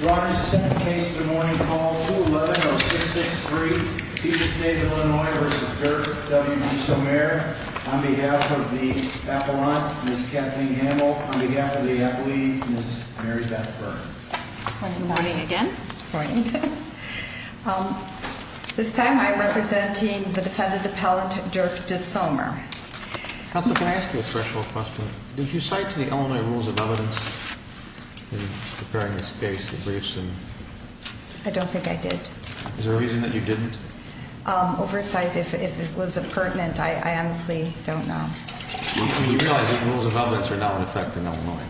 Your Honor, the second case of the morning, call 211-0663, Peter State Illinois v. Dirk W. DeSomer, on behalf of the appellant, Ms. Kathleen Hamill, on behalf of the appellee, Ms. Mary Beth Burns. Good morning again. Good morning. This time we are representing the defendant appellant, Dirk DeSomer. Counsel, can I ask you a threshold question? Did you cite the Illinois rules of evidence in preparing this case, the briefs? I don't think I did. Is there a reason that you didn't? Oversight, if it was pertinent, I honestly don't know. You realize that the rules of evidence are now in effect in Illinois?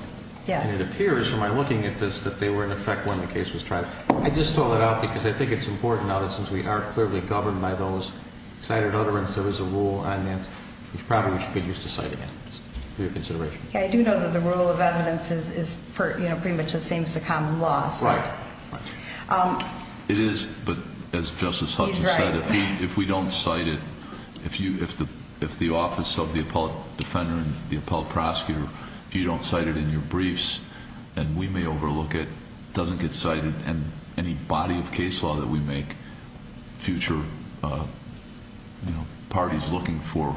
Yes. And it appears, from my looking at this, that they were in effect when the case was tried. I just throw that out because I think it's important now that since we are clearly governed by those cited utterances, there is a rule on that, which probably we should get used to citing it, for your consideration. I do know that the rule of evidence is pretty much the same as the common law. Right. It is, but as Justice Hudson said, if we don't cite it, if the office of the appellate defender and the appellate prosecutor, if you don't cite it in your briefs, then we may overlook it, it doesn't get cited, and any body of case law that we make, future parties looking for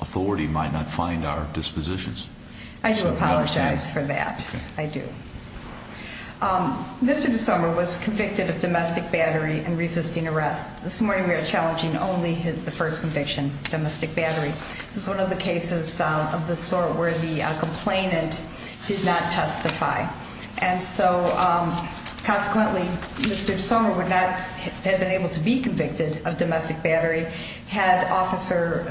authority might not find our dispositions. I do apologize for that. I do. Mr. DeSoma was convicted of domestic battery and resisting arrest. This morning we are challenging only the first conviction, domestic battery. This is one of the cases of the sort where the complainant did not testify. And so, consequently, Mr. DeSoma would not have been able to be convicted of domestic battery had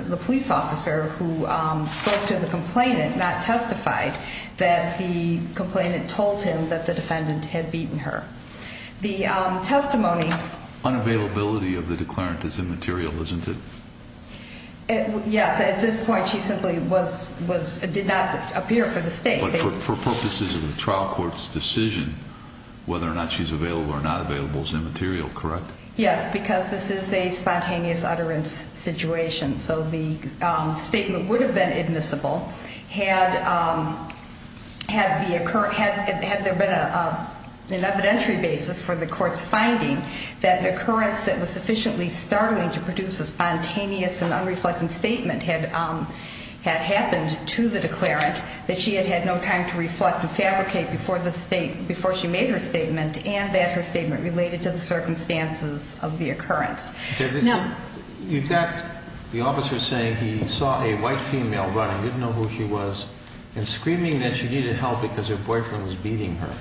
the police officer who spoke to the complainant not testified that the complainant told him that the defendant had beaten her. The testimony- Unavailability of the declarant is immaterial, isn't it? Yes, at this point she simply did not appear for the state. But for purposes of the trial court's decision, whether or not she's available or not available is immaterial, correct? Yes, because this is a spontaneous utterance situation, so the statement would have been admissible had there been an evidentiary basis for the court's finding that an occurrence that was sufficiently startling to produce a spontaneous and unreflective statement had happened to the declarant, that she had had no time to reflect and fabricate before she made her statement, and that her statement related to the circumstances of the occurrence. You've got the officer saying he saw a white female running, didn't know who she was, and screaming that she needed help because her boyfriend was beating her.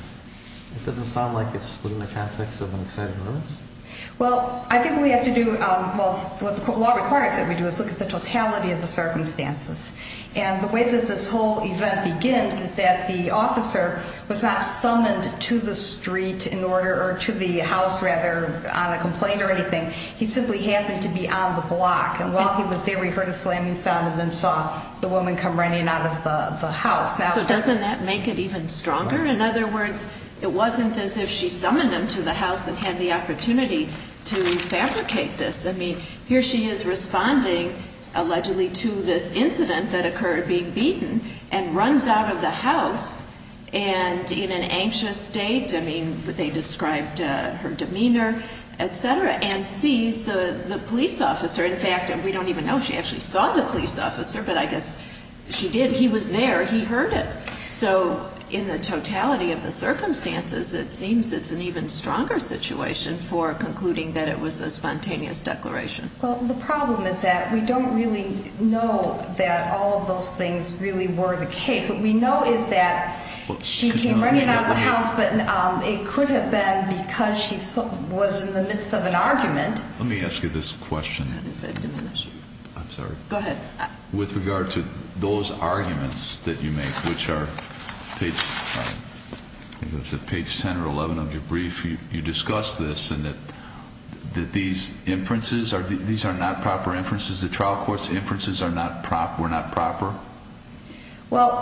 It doesn't sound like it's within the context of an exciting romance? Well, I think we have to do- well, what the law requires that we do is look at the totality of the circumstances. And the way that this whole event begins is that the officer was not summoned to the street in order- or to the house, rather, on a complaint or anything. He simply happened to be on the block, and while he was there he heard a slamming sound and then saw the woman come running out of the house. So doesn't that make it even stronger? In other words, it wasn't as if she summoned him to the house and had the opportunity to fabricate this. I mean, here she is responding allegedly to this incident that occurred, being beaten, and runs out of the house and in an anxious state. I mean, they described her demeanor, et cetera, and sees the police officer. In fact, we don't even know if she actually saw the police officer, but I guess she did. He was there. He heard it. So in the totality of the circumstances, it seems it's an even stronger situation for concluding that it was a spontaneous declaration. Well, the problem is that we don't really know that all of those things really were the case. What we know is that she came running out of the house, but it could have been because she was in the midst of an argument. Let me ask you this question. I'm sorry. Go ahead. With regard to those arguments that you make, which are page 10 or 11 of your brief, you discuss this and that these inferences, these are not proper inferences. The trial court's inferences were not proper. Well,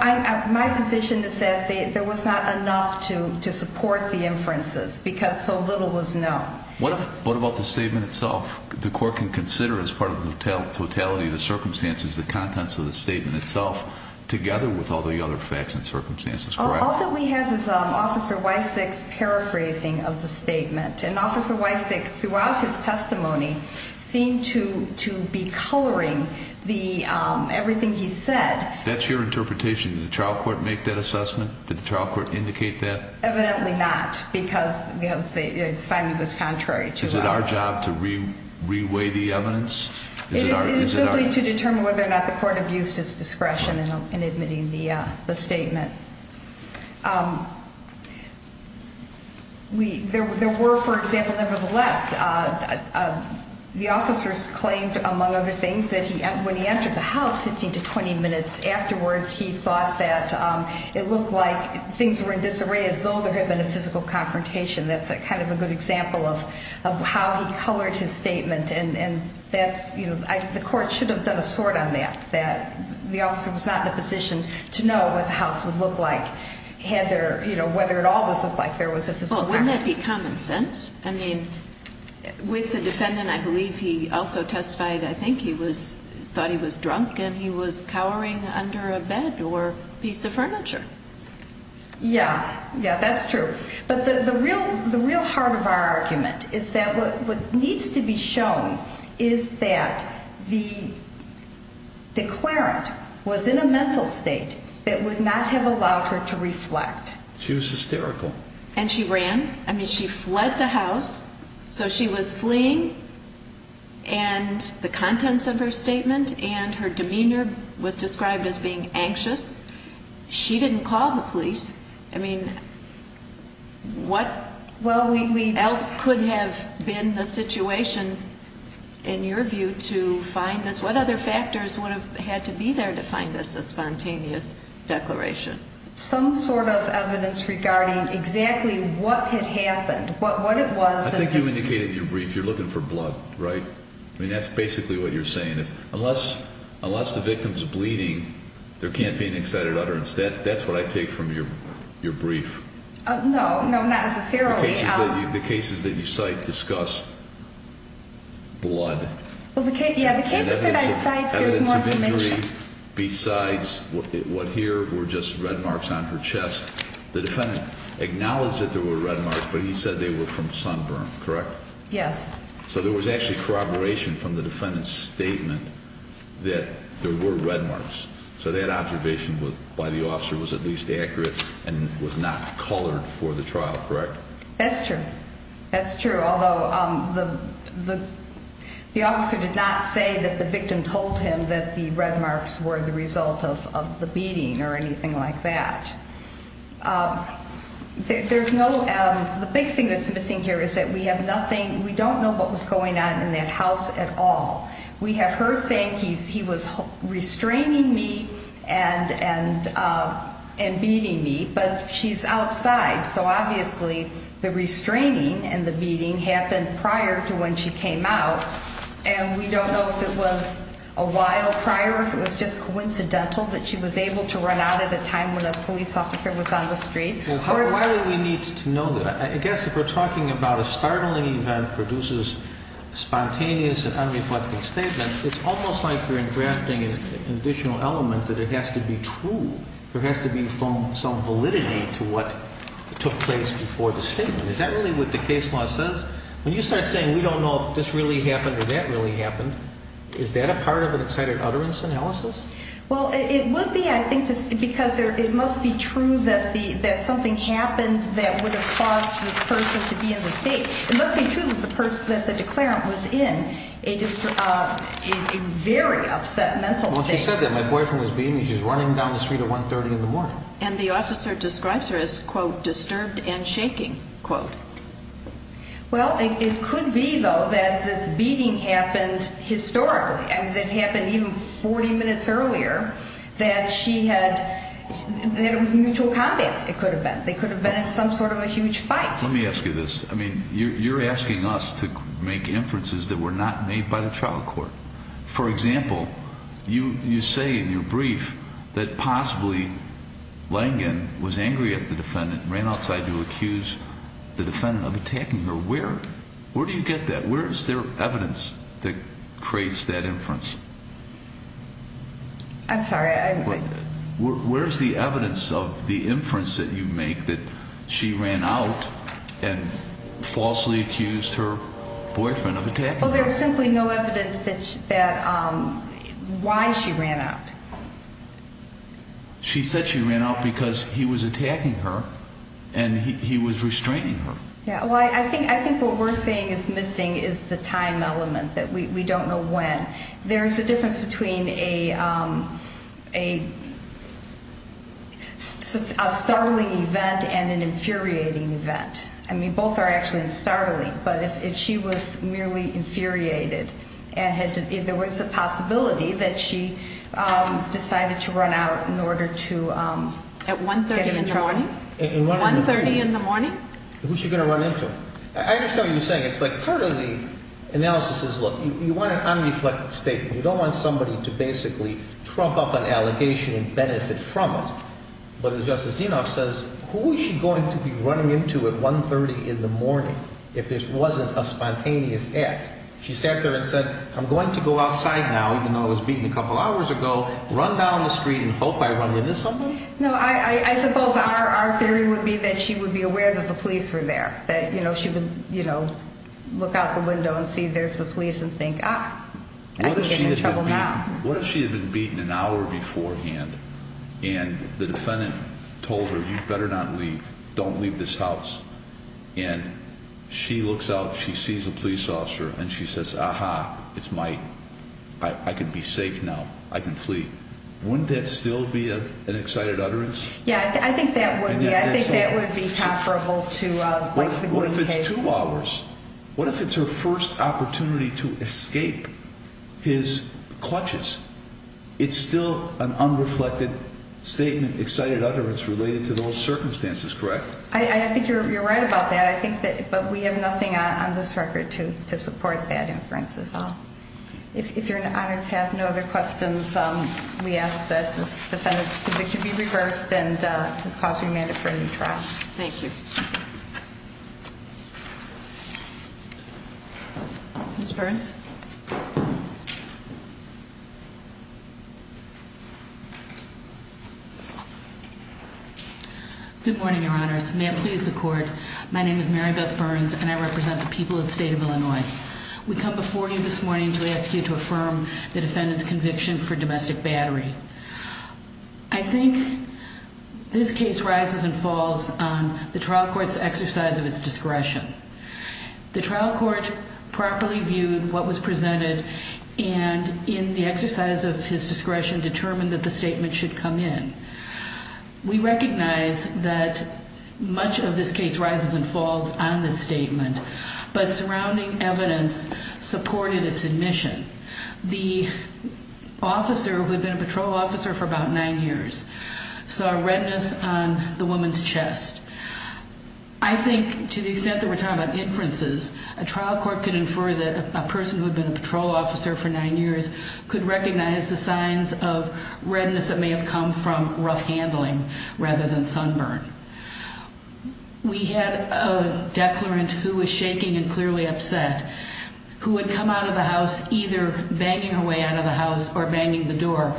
my position is that there was not enough to support the inferences because so little was known. What about the statement itself? The court can consider as part of the totality of the circumstances the contents of the statement itself together with all the other facts and circumstances, correct? All that we have is Officer Wysak's paraphrasing of the statement. And Officer Wysak throughout his testimony seemed to be coloring everything he said. That's your interpretation. Did the trial court make that assessment? Did the trial court indicate that? Evidently not, because it's fine if it's contrary to that. Is it our job to re-weigh the evidence? It is simply to determine whether or not the court abused his discretion in admitting the statement. There were, for example, nevertheless, the officers claimed, among other things, that when he entered the house 15 to 20 minutes afterwards, he thought that it looked like things were in disarray as though there had been a physical confrontation. That's kind of a good example of how he colored his statement. The court should have done a sort on that, that the officer was not in a position to know what the house would look like, whether at all it looked like there was a physical confrontation. Wouldn't that be common sense? With the defendant, I believe he also testified, I think he thought he was drunk and he was cowering under a bed or piece of furniture. Yeah, that's true. But the real heart of our argument is that what needs to be shown is that the declarant was in a mental state that would not have allowed her to reflect. She was hysterical. And she ran. I mean, she fled the house. So she was fleeing and the contents of her statement and her demeanor was described as being anxious. She didn't call the police. I mean, what else could have been the situation in your view to find this? What other factors would have had to be there to find this a spontaneous declaration? Some sort of evidence regarding exactly what had happened, what it was. I think you indicated in your brief you're looking for blood, right? I mean, that's basically what you're saying. Unless the victim's bleeding, there can't be an excited utterance. That's what I take from your brief. No, not necessarily. The cases that you cite discuss blood. Well, the cases that I cite, there's more to mention. Besides what here were just red marks on her chest, the defendant acknowledged that there were red marks, but he said they were from sunburn, correct? Yes. So there was actually corroboration from the defendant's statement that there were red marks. So that observation was why the officer was at least accurate and was not colored for the trial, correct? That's true. That's true, although the officer did not say that the victim told him that the red marks were the result of the beating or anything like that. The big thing that's missing here is that we don't know what was going on in that house at all. We have her saying he was restraining me and beating me, but she's outside, so obviously the restraining and the beating happened prior to when she came out. And we don't know if it was a while prior or if it was just coincidental that she was able to run out at a time when a police officer was on the street. Well, why do we need to know that? I guess if we're talking about a startling event produces spontaneous and unreflective statements, it's almost like you're engrafting an additional element that it has to be true. There has to be some validity to what took place before the statement. Is that really what the case law says? When you start saying we don't know if this really happened or that really happened, is that a part of an excited utterance analysis? Well, it would be, I think, because it must be true that something happened that would have caused this person to be in the state. It must be true that the person, that the declarant was in a very upset mental state. Well, she said that. My boyfriend was beating me. She was running down the street at 1.30 in the morning. Well, it could be, though, that this beating happened historically. I mean, it happened even 40 minutes earlier that she had, that it was mutual combat, it could have been. They could have been in some sort of a huge fight. Let me ask you this. I mean, you're asking us to make inferences that were not made by the trial court. For example, you say in your brief that possibly Langen was angry at the defendant and ran outside to accuse the defendant of attacking her. Where do you get that? Where is there evidence that creates that inference? I'm sorry. Where is the evidence of the inference that you make that she ran out and falsely accused her boyfriend of attacking her? Well, there's simply no evidence that why she ran out. She said she ran out because he was attacking her and he was restraining her. Yeah, well, I think what we're saying is missing is the time element, that we don't know when. There is a difference between a startling event and an infuriating event. I mean, both are actually startling, but if she was merely infuriated and there was a possibility that she decided to run out in order to get him in trouble. At 1.30 in the morning? At 1.30 in the morning? Who's she going to run into? I understand what you're saying. It's like part of the analysis is, look, you want an unreflected statement. You don't want somebody to basically trump up an allegation and benefit from it. But as Justice Dinoff says, who is she going to be running into at 1.30 in the morning if this wasn't a spontaneous act? She sat there and said, I'm going to go outside now, even though I was beaten a couple hours ago, run down the street and hope I run into something? No, I suppose our theory would be that she would be aware that the police were there, that she would look out the window and see there's the police and think, ah, I can get in trouble now. What if she had been beaten an hour beforehand and the defendant told her, you'd better not leave, don't leave this house. And she looks out, she sees a police officer, and she says, aha, it's my, I can be safe now, I can flee. Wouldn't that still be an excited utterance? Yeah, I think that would be. I think that would be comparable to like the Glynn case. What if it's her first opportunity to escape his clutches? It's still an unreflected statement, excited utterance related to those circumstances, correct? I think you're right about that. I think that, but we have nothing on this record to support that inference as well. If you're in honor to have no other questions, we ask that this defendant's conviction be reversed and this cause be made for a new trial. Thank you. Ms. Burns? Good morning, Your Honors. May it please the court, my name is Mary Beth Burns and I represent the people of the state of Illinois. We come before you this morning to ask you to affirm the defendant's conviction for domestic battery. I think this case rises and falls on the trial court's exercise of its discretion. The trial court properly viewed what was presented and in the exercise of his discretion determined that the statement should come in. We recognize that much of this case rises and falls on this statement, but surrounding evidence supported its admission. The officer who had been a patrol officer for about nine years saw redness on the woman's chest. I think to the extent that we're talking about inferences, a trial court can infer that a person who had been a patrol officer for nine years could recognize the signs of redness that may have come from rough handling rather than sunburn. We had a declarant who was shaking and clearly upset who had come out of the house either banging her way out of the house or banging the door,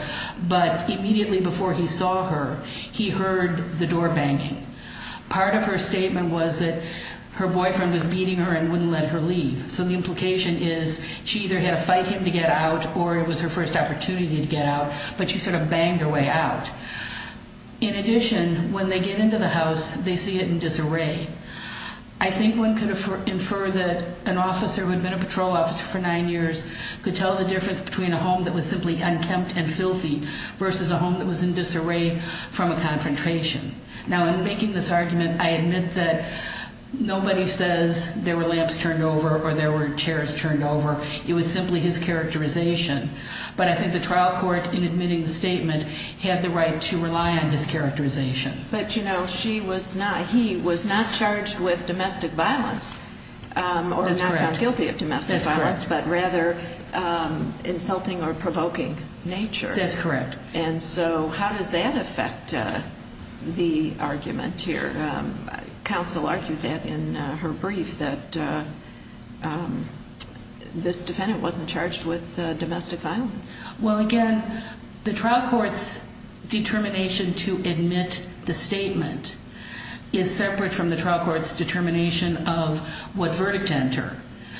but immediately before he saw her, he heard the door banging. Part of her statement was that her boyfriend was beating her and wouldn't let her leave. So the implication is she either had to fight him to get out or it was her first opportunity to get out, but she sort of banged her way out. In addition, when they get into the house, they see it in disarray. I think one could infer that an officer who had been a patrol officer for nine years could tell the difference between a home that was simply unkempt and filthy versus a home that was in disarray from a confrontation. Now, in making this argument, I admit that nobody says there were lamps turned over or there were chairs turned over. It was simply his characterization. But I think the trial court, in admitting the statement, had the right to rely on his characterization. But, you know, he was not charged with domestic violence or not found guilty of domestic violence, but rather insulting or provoking nature. That's correct. And so how does that affect the argument here? Counsel argued that in her brief that this defendant wasn't charged with domestic violence. Well, again, the trial court's determination to admit the statement is separate from the trial court's determination of what verdict to enter.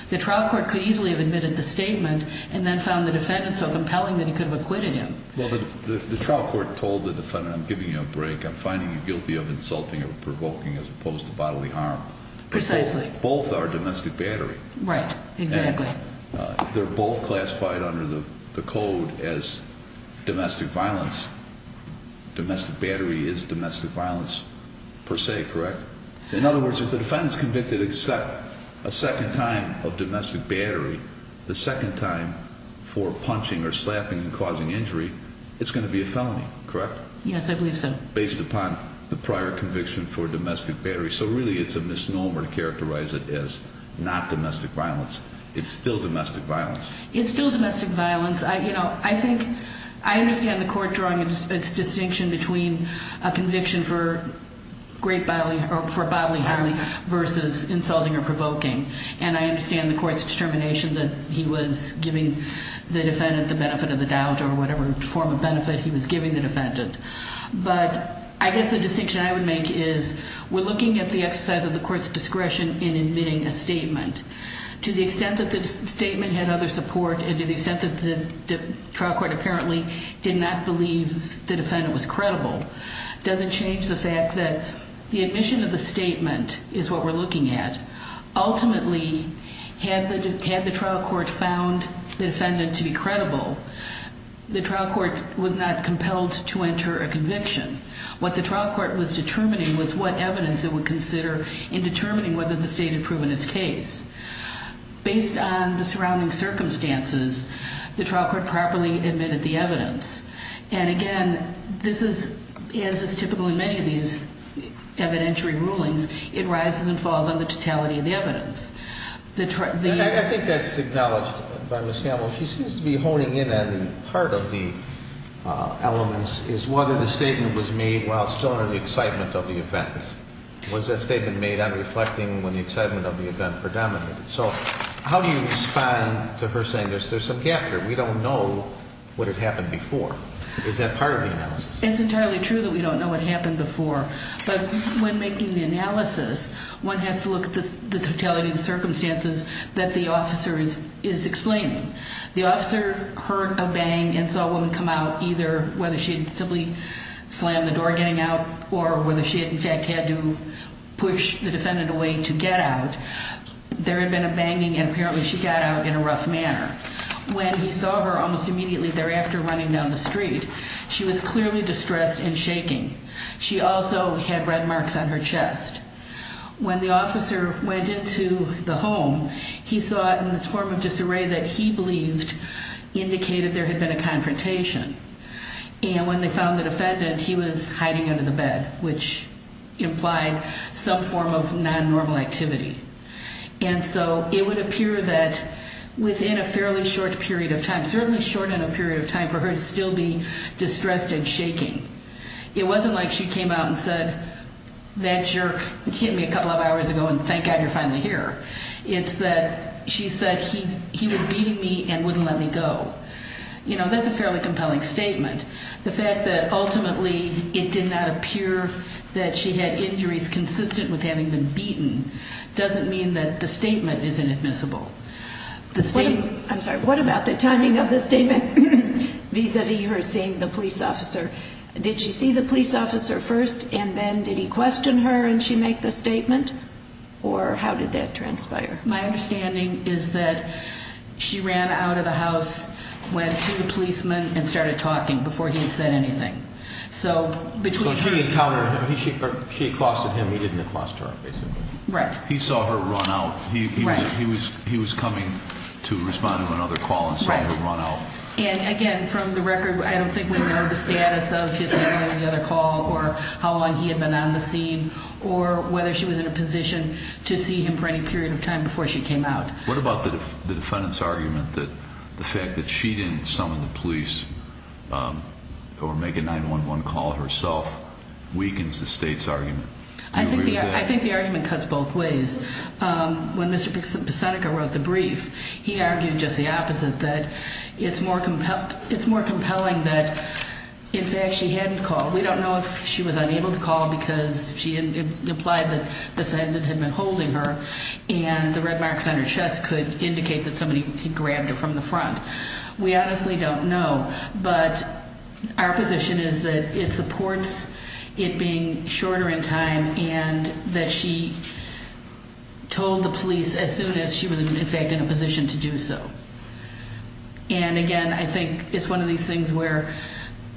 The trial court could easily have admitted the statement and then found the defendant so compelling that he could have acquitted him. Well, the trial court told the defendant, I'm giving you a break. I'm finding you guilty of insulting or provoking as opposed to bodily harm. Precisely. Both are domestic battery. Right, exactly. They're both classified under the code as domestic violence. Domestic battery is domestic violence per se, correct? In other words, if the defendant's convicted except a second time of domestic battery, the second time for punching or slapping and causing injury, it's going to be a felony, correct? Yes, I believe so. Based upon the prior conviction for domestic battery. So, really, it's a misnomer to characterize it as not domestic violence. It's still domestic violence. It's still domestic violence. You know, I think I understand the court drawing its distinction between a conviction for bodily harm versus insulting or provoking. And I understand the court's determination that he was giving the defendant the benefit of the doubt or whatever form of benefit he was giving the defendant. But I guess the distinction I would make is we're looking at the exercise of the court's discretion in admitting a statement. To the extent that the statement had other support and to the extent that the trial court apparently did not believe the defendant was credible, doesn't change the fact that the admission of the statement is what we're looking at. Ultimately, had the trial court found the defendant to be credible, the trial court was not compelled to enter a conviction. What the trial court was determining was what evidence it would consider in determining whether the state had proven its case. Based on the surrounding circumstances, the trial court properly admitted the evidence. And, again, this is, as is typical in many of these evidentiary rulings, it rises and falls on the totality of the evidence. I think that's acknowledged by Ms. Campbell. She seems to be honing in on part of the elements is whether the statement was made while still under the excitement of the event. Was that statement made on reflecting when the excitement of the event predominated? So how do you respond to her saying there's some gap there? We don't know what had happened before. Is that part of the analysis? It's entirely true that we don't know what happened before. But when making the analysis, one has to look at the totality of the circumstances that the officer is explaining. The officer heard a bang and saw a woman come out, either whether she had simply slammed the door getting out or whether she, in fact, had to push the defendant away to get out. There had been a banging, and apparently she got out in a rough manner. When he saw her almost immediately thereafter running down the street, she was clearly distressed and shaking. She also had red marks on her chest. When the officer went into the home, he saw in this form of disarray that he believed indicated there had been a confrontation. And when they found the defendant, he was hiding under the bed, which implied some form of non-normal activity. And so it would appear that within a fairly short period of time, certainly short in a period of time, for her to still be distressed and shaking. It wasn't like she came out and said, that jerk hit me a couple of hours ago and thank God you're finally here. It's that she said he was beating me and wouldn't let me go. You know, that's a fairly compelling statement. The fact that ultimately it did not appear that she had injuries consistent with having been beaten doesn't mean that the statement is inadmissible. I'm sorry, what about the timing of the statement vis-a-vis her seeing the police officer? Did she see the police officer first and then did he question her and she make the statement? Or how did that transpire? My understanding is that she ran out of the house, went to the policeman and started talking before he had said anything. So she encountered him, she accosted him, he didn't accost her, basically. Right. He saw her run out. Right. He was coming to respond to another call and saw her run out. Right. And again, from the record, I don't think we know the status of his handling of the other call or how long he had been on the scene or whether she was in a position to see him for any period of time before she came out. What about the defendant's argument that the fact that she didn't summon the police or make a 911 call herself weakens the state's argument? I think the argument cuts both ways. When Mr. Pisenica wrote the brief, he argued just the opposite, that it's more compelling that in fact she hadn't called. We don't know if she was unable to call because it implied that the defendant had been holding her and the red marks on her chest could indicate that somebody grabbed her from the front. We honestly don't know, but our position is that it supports it being shorter in time and that she told the police as soon as she was in fact in a position to do so. And again, I think it's one of these things where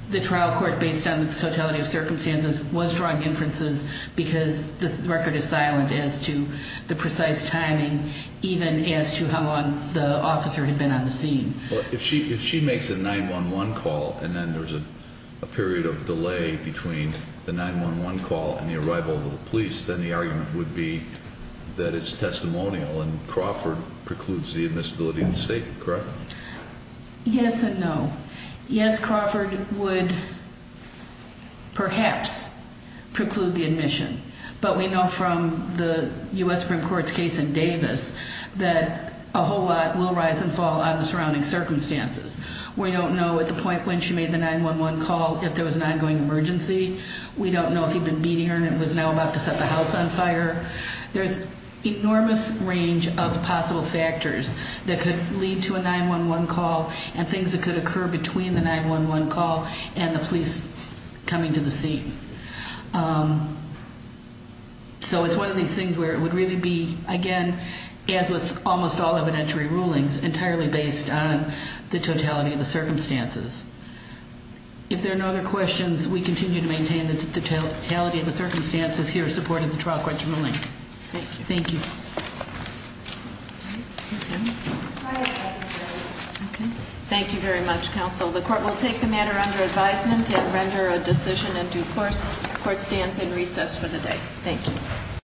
the trial court, based on the totality of circumstances, was drawing inferences because the record is silent as to the precise timing, even as to how long the officer had been on the scene. If she makes a 911 call and then there's a period of delay between the 911 call and the arrival of the police, then the argument would be that it's testimonial and Crawford precludes the admissibility of the state, correct? Yes and no. Yes, Crawford would perhaps preclude the admission, but we know from the U.S. Supreme Court's case in Davis that a whole lot will rise and fall on the surrounding circumstances. We don't know at the point when she made the 911 call if there was an ongoing emergency. We don't know if he'd been beating her and was now about to set the house on fire. There's an enormous range of possible factors that could lead to a 911 call and things that could occur between the 911 call and the police coming to the scene. So it's one of these things where it would really be, again, as with almost all evidentiary rulings, entirely based on the totality of the circumstances. If there are no other questions, we continue to maintain the totality of the circumstances here in support of the trial court's ruling. Thank you. Thank you. Thank you very much, counsel. The court will take the matter under advisement and render a decision in due course. The court stands in recess for the day. Thank you.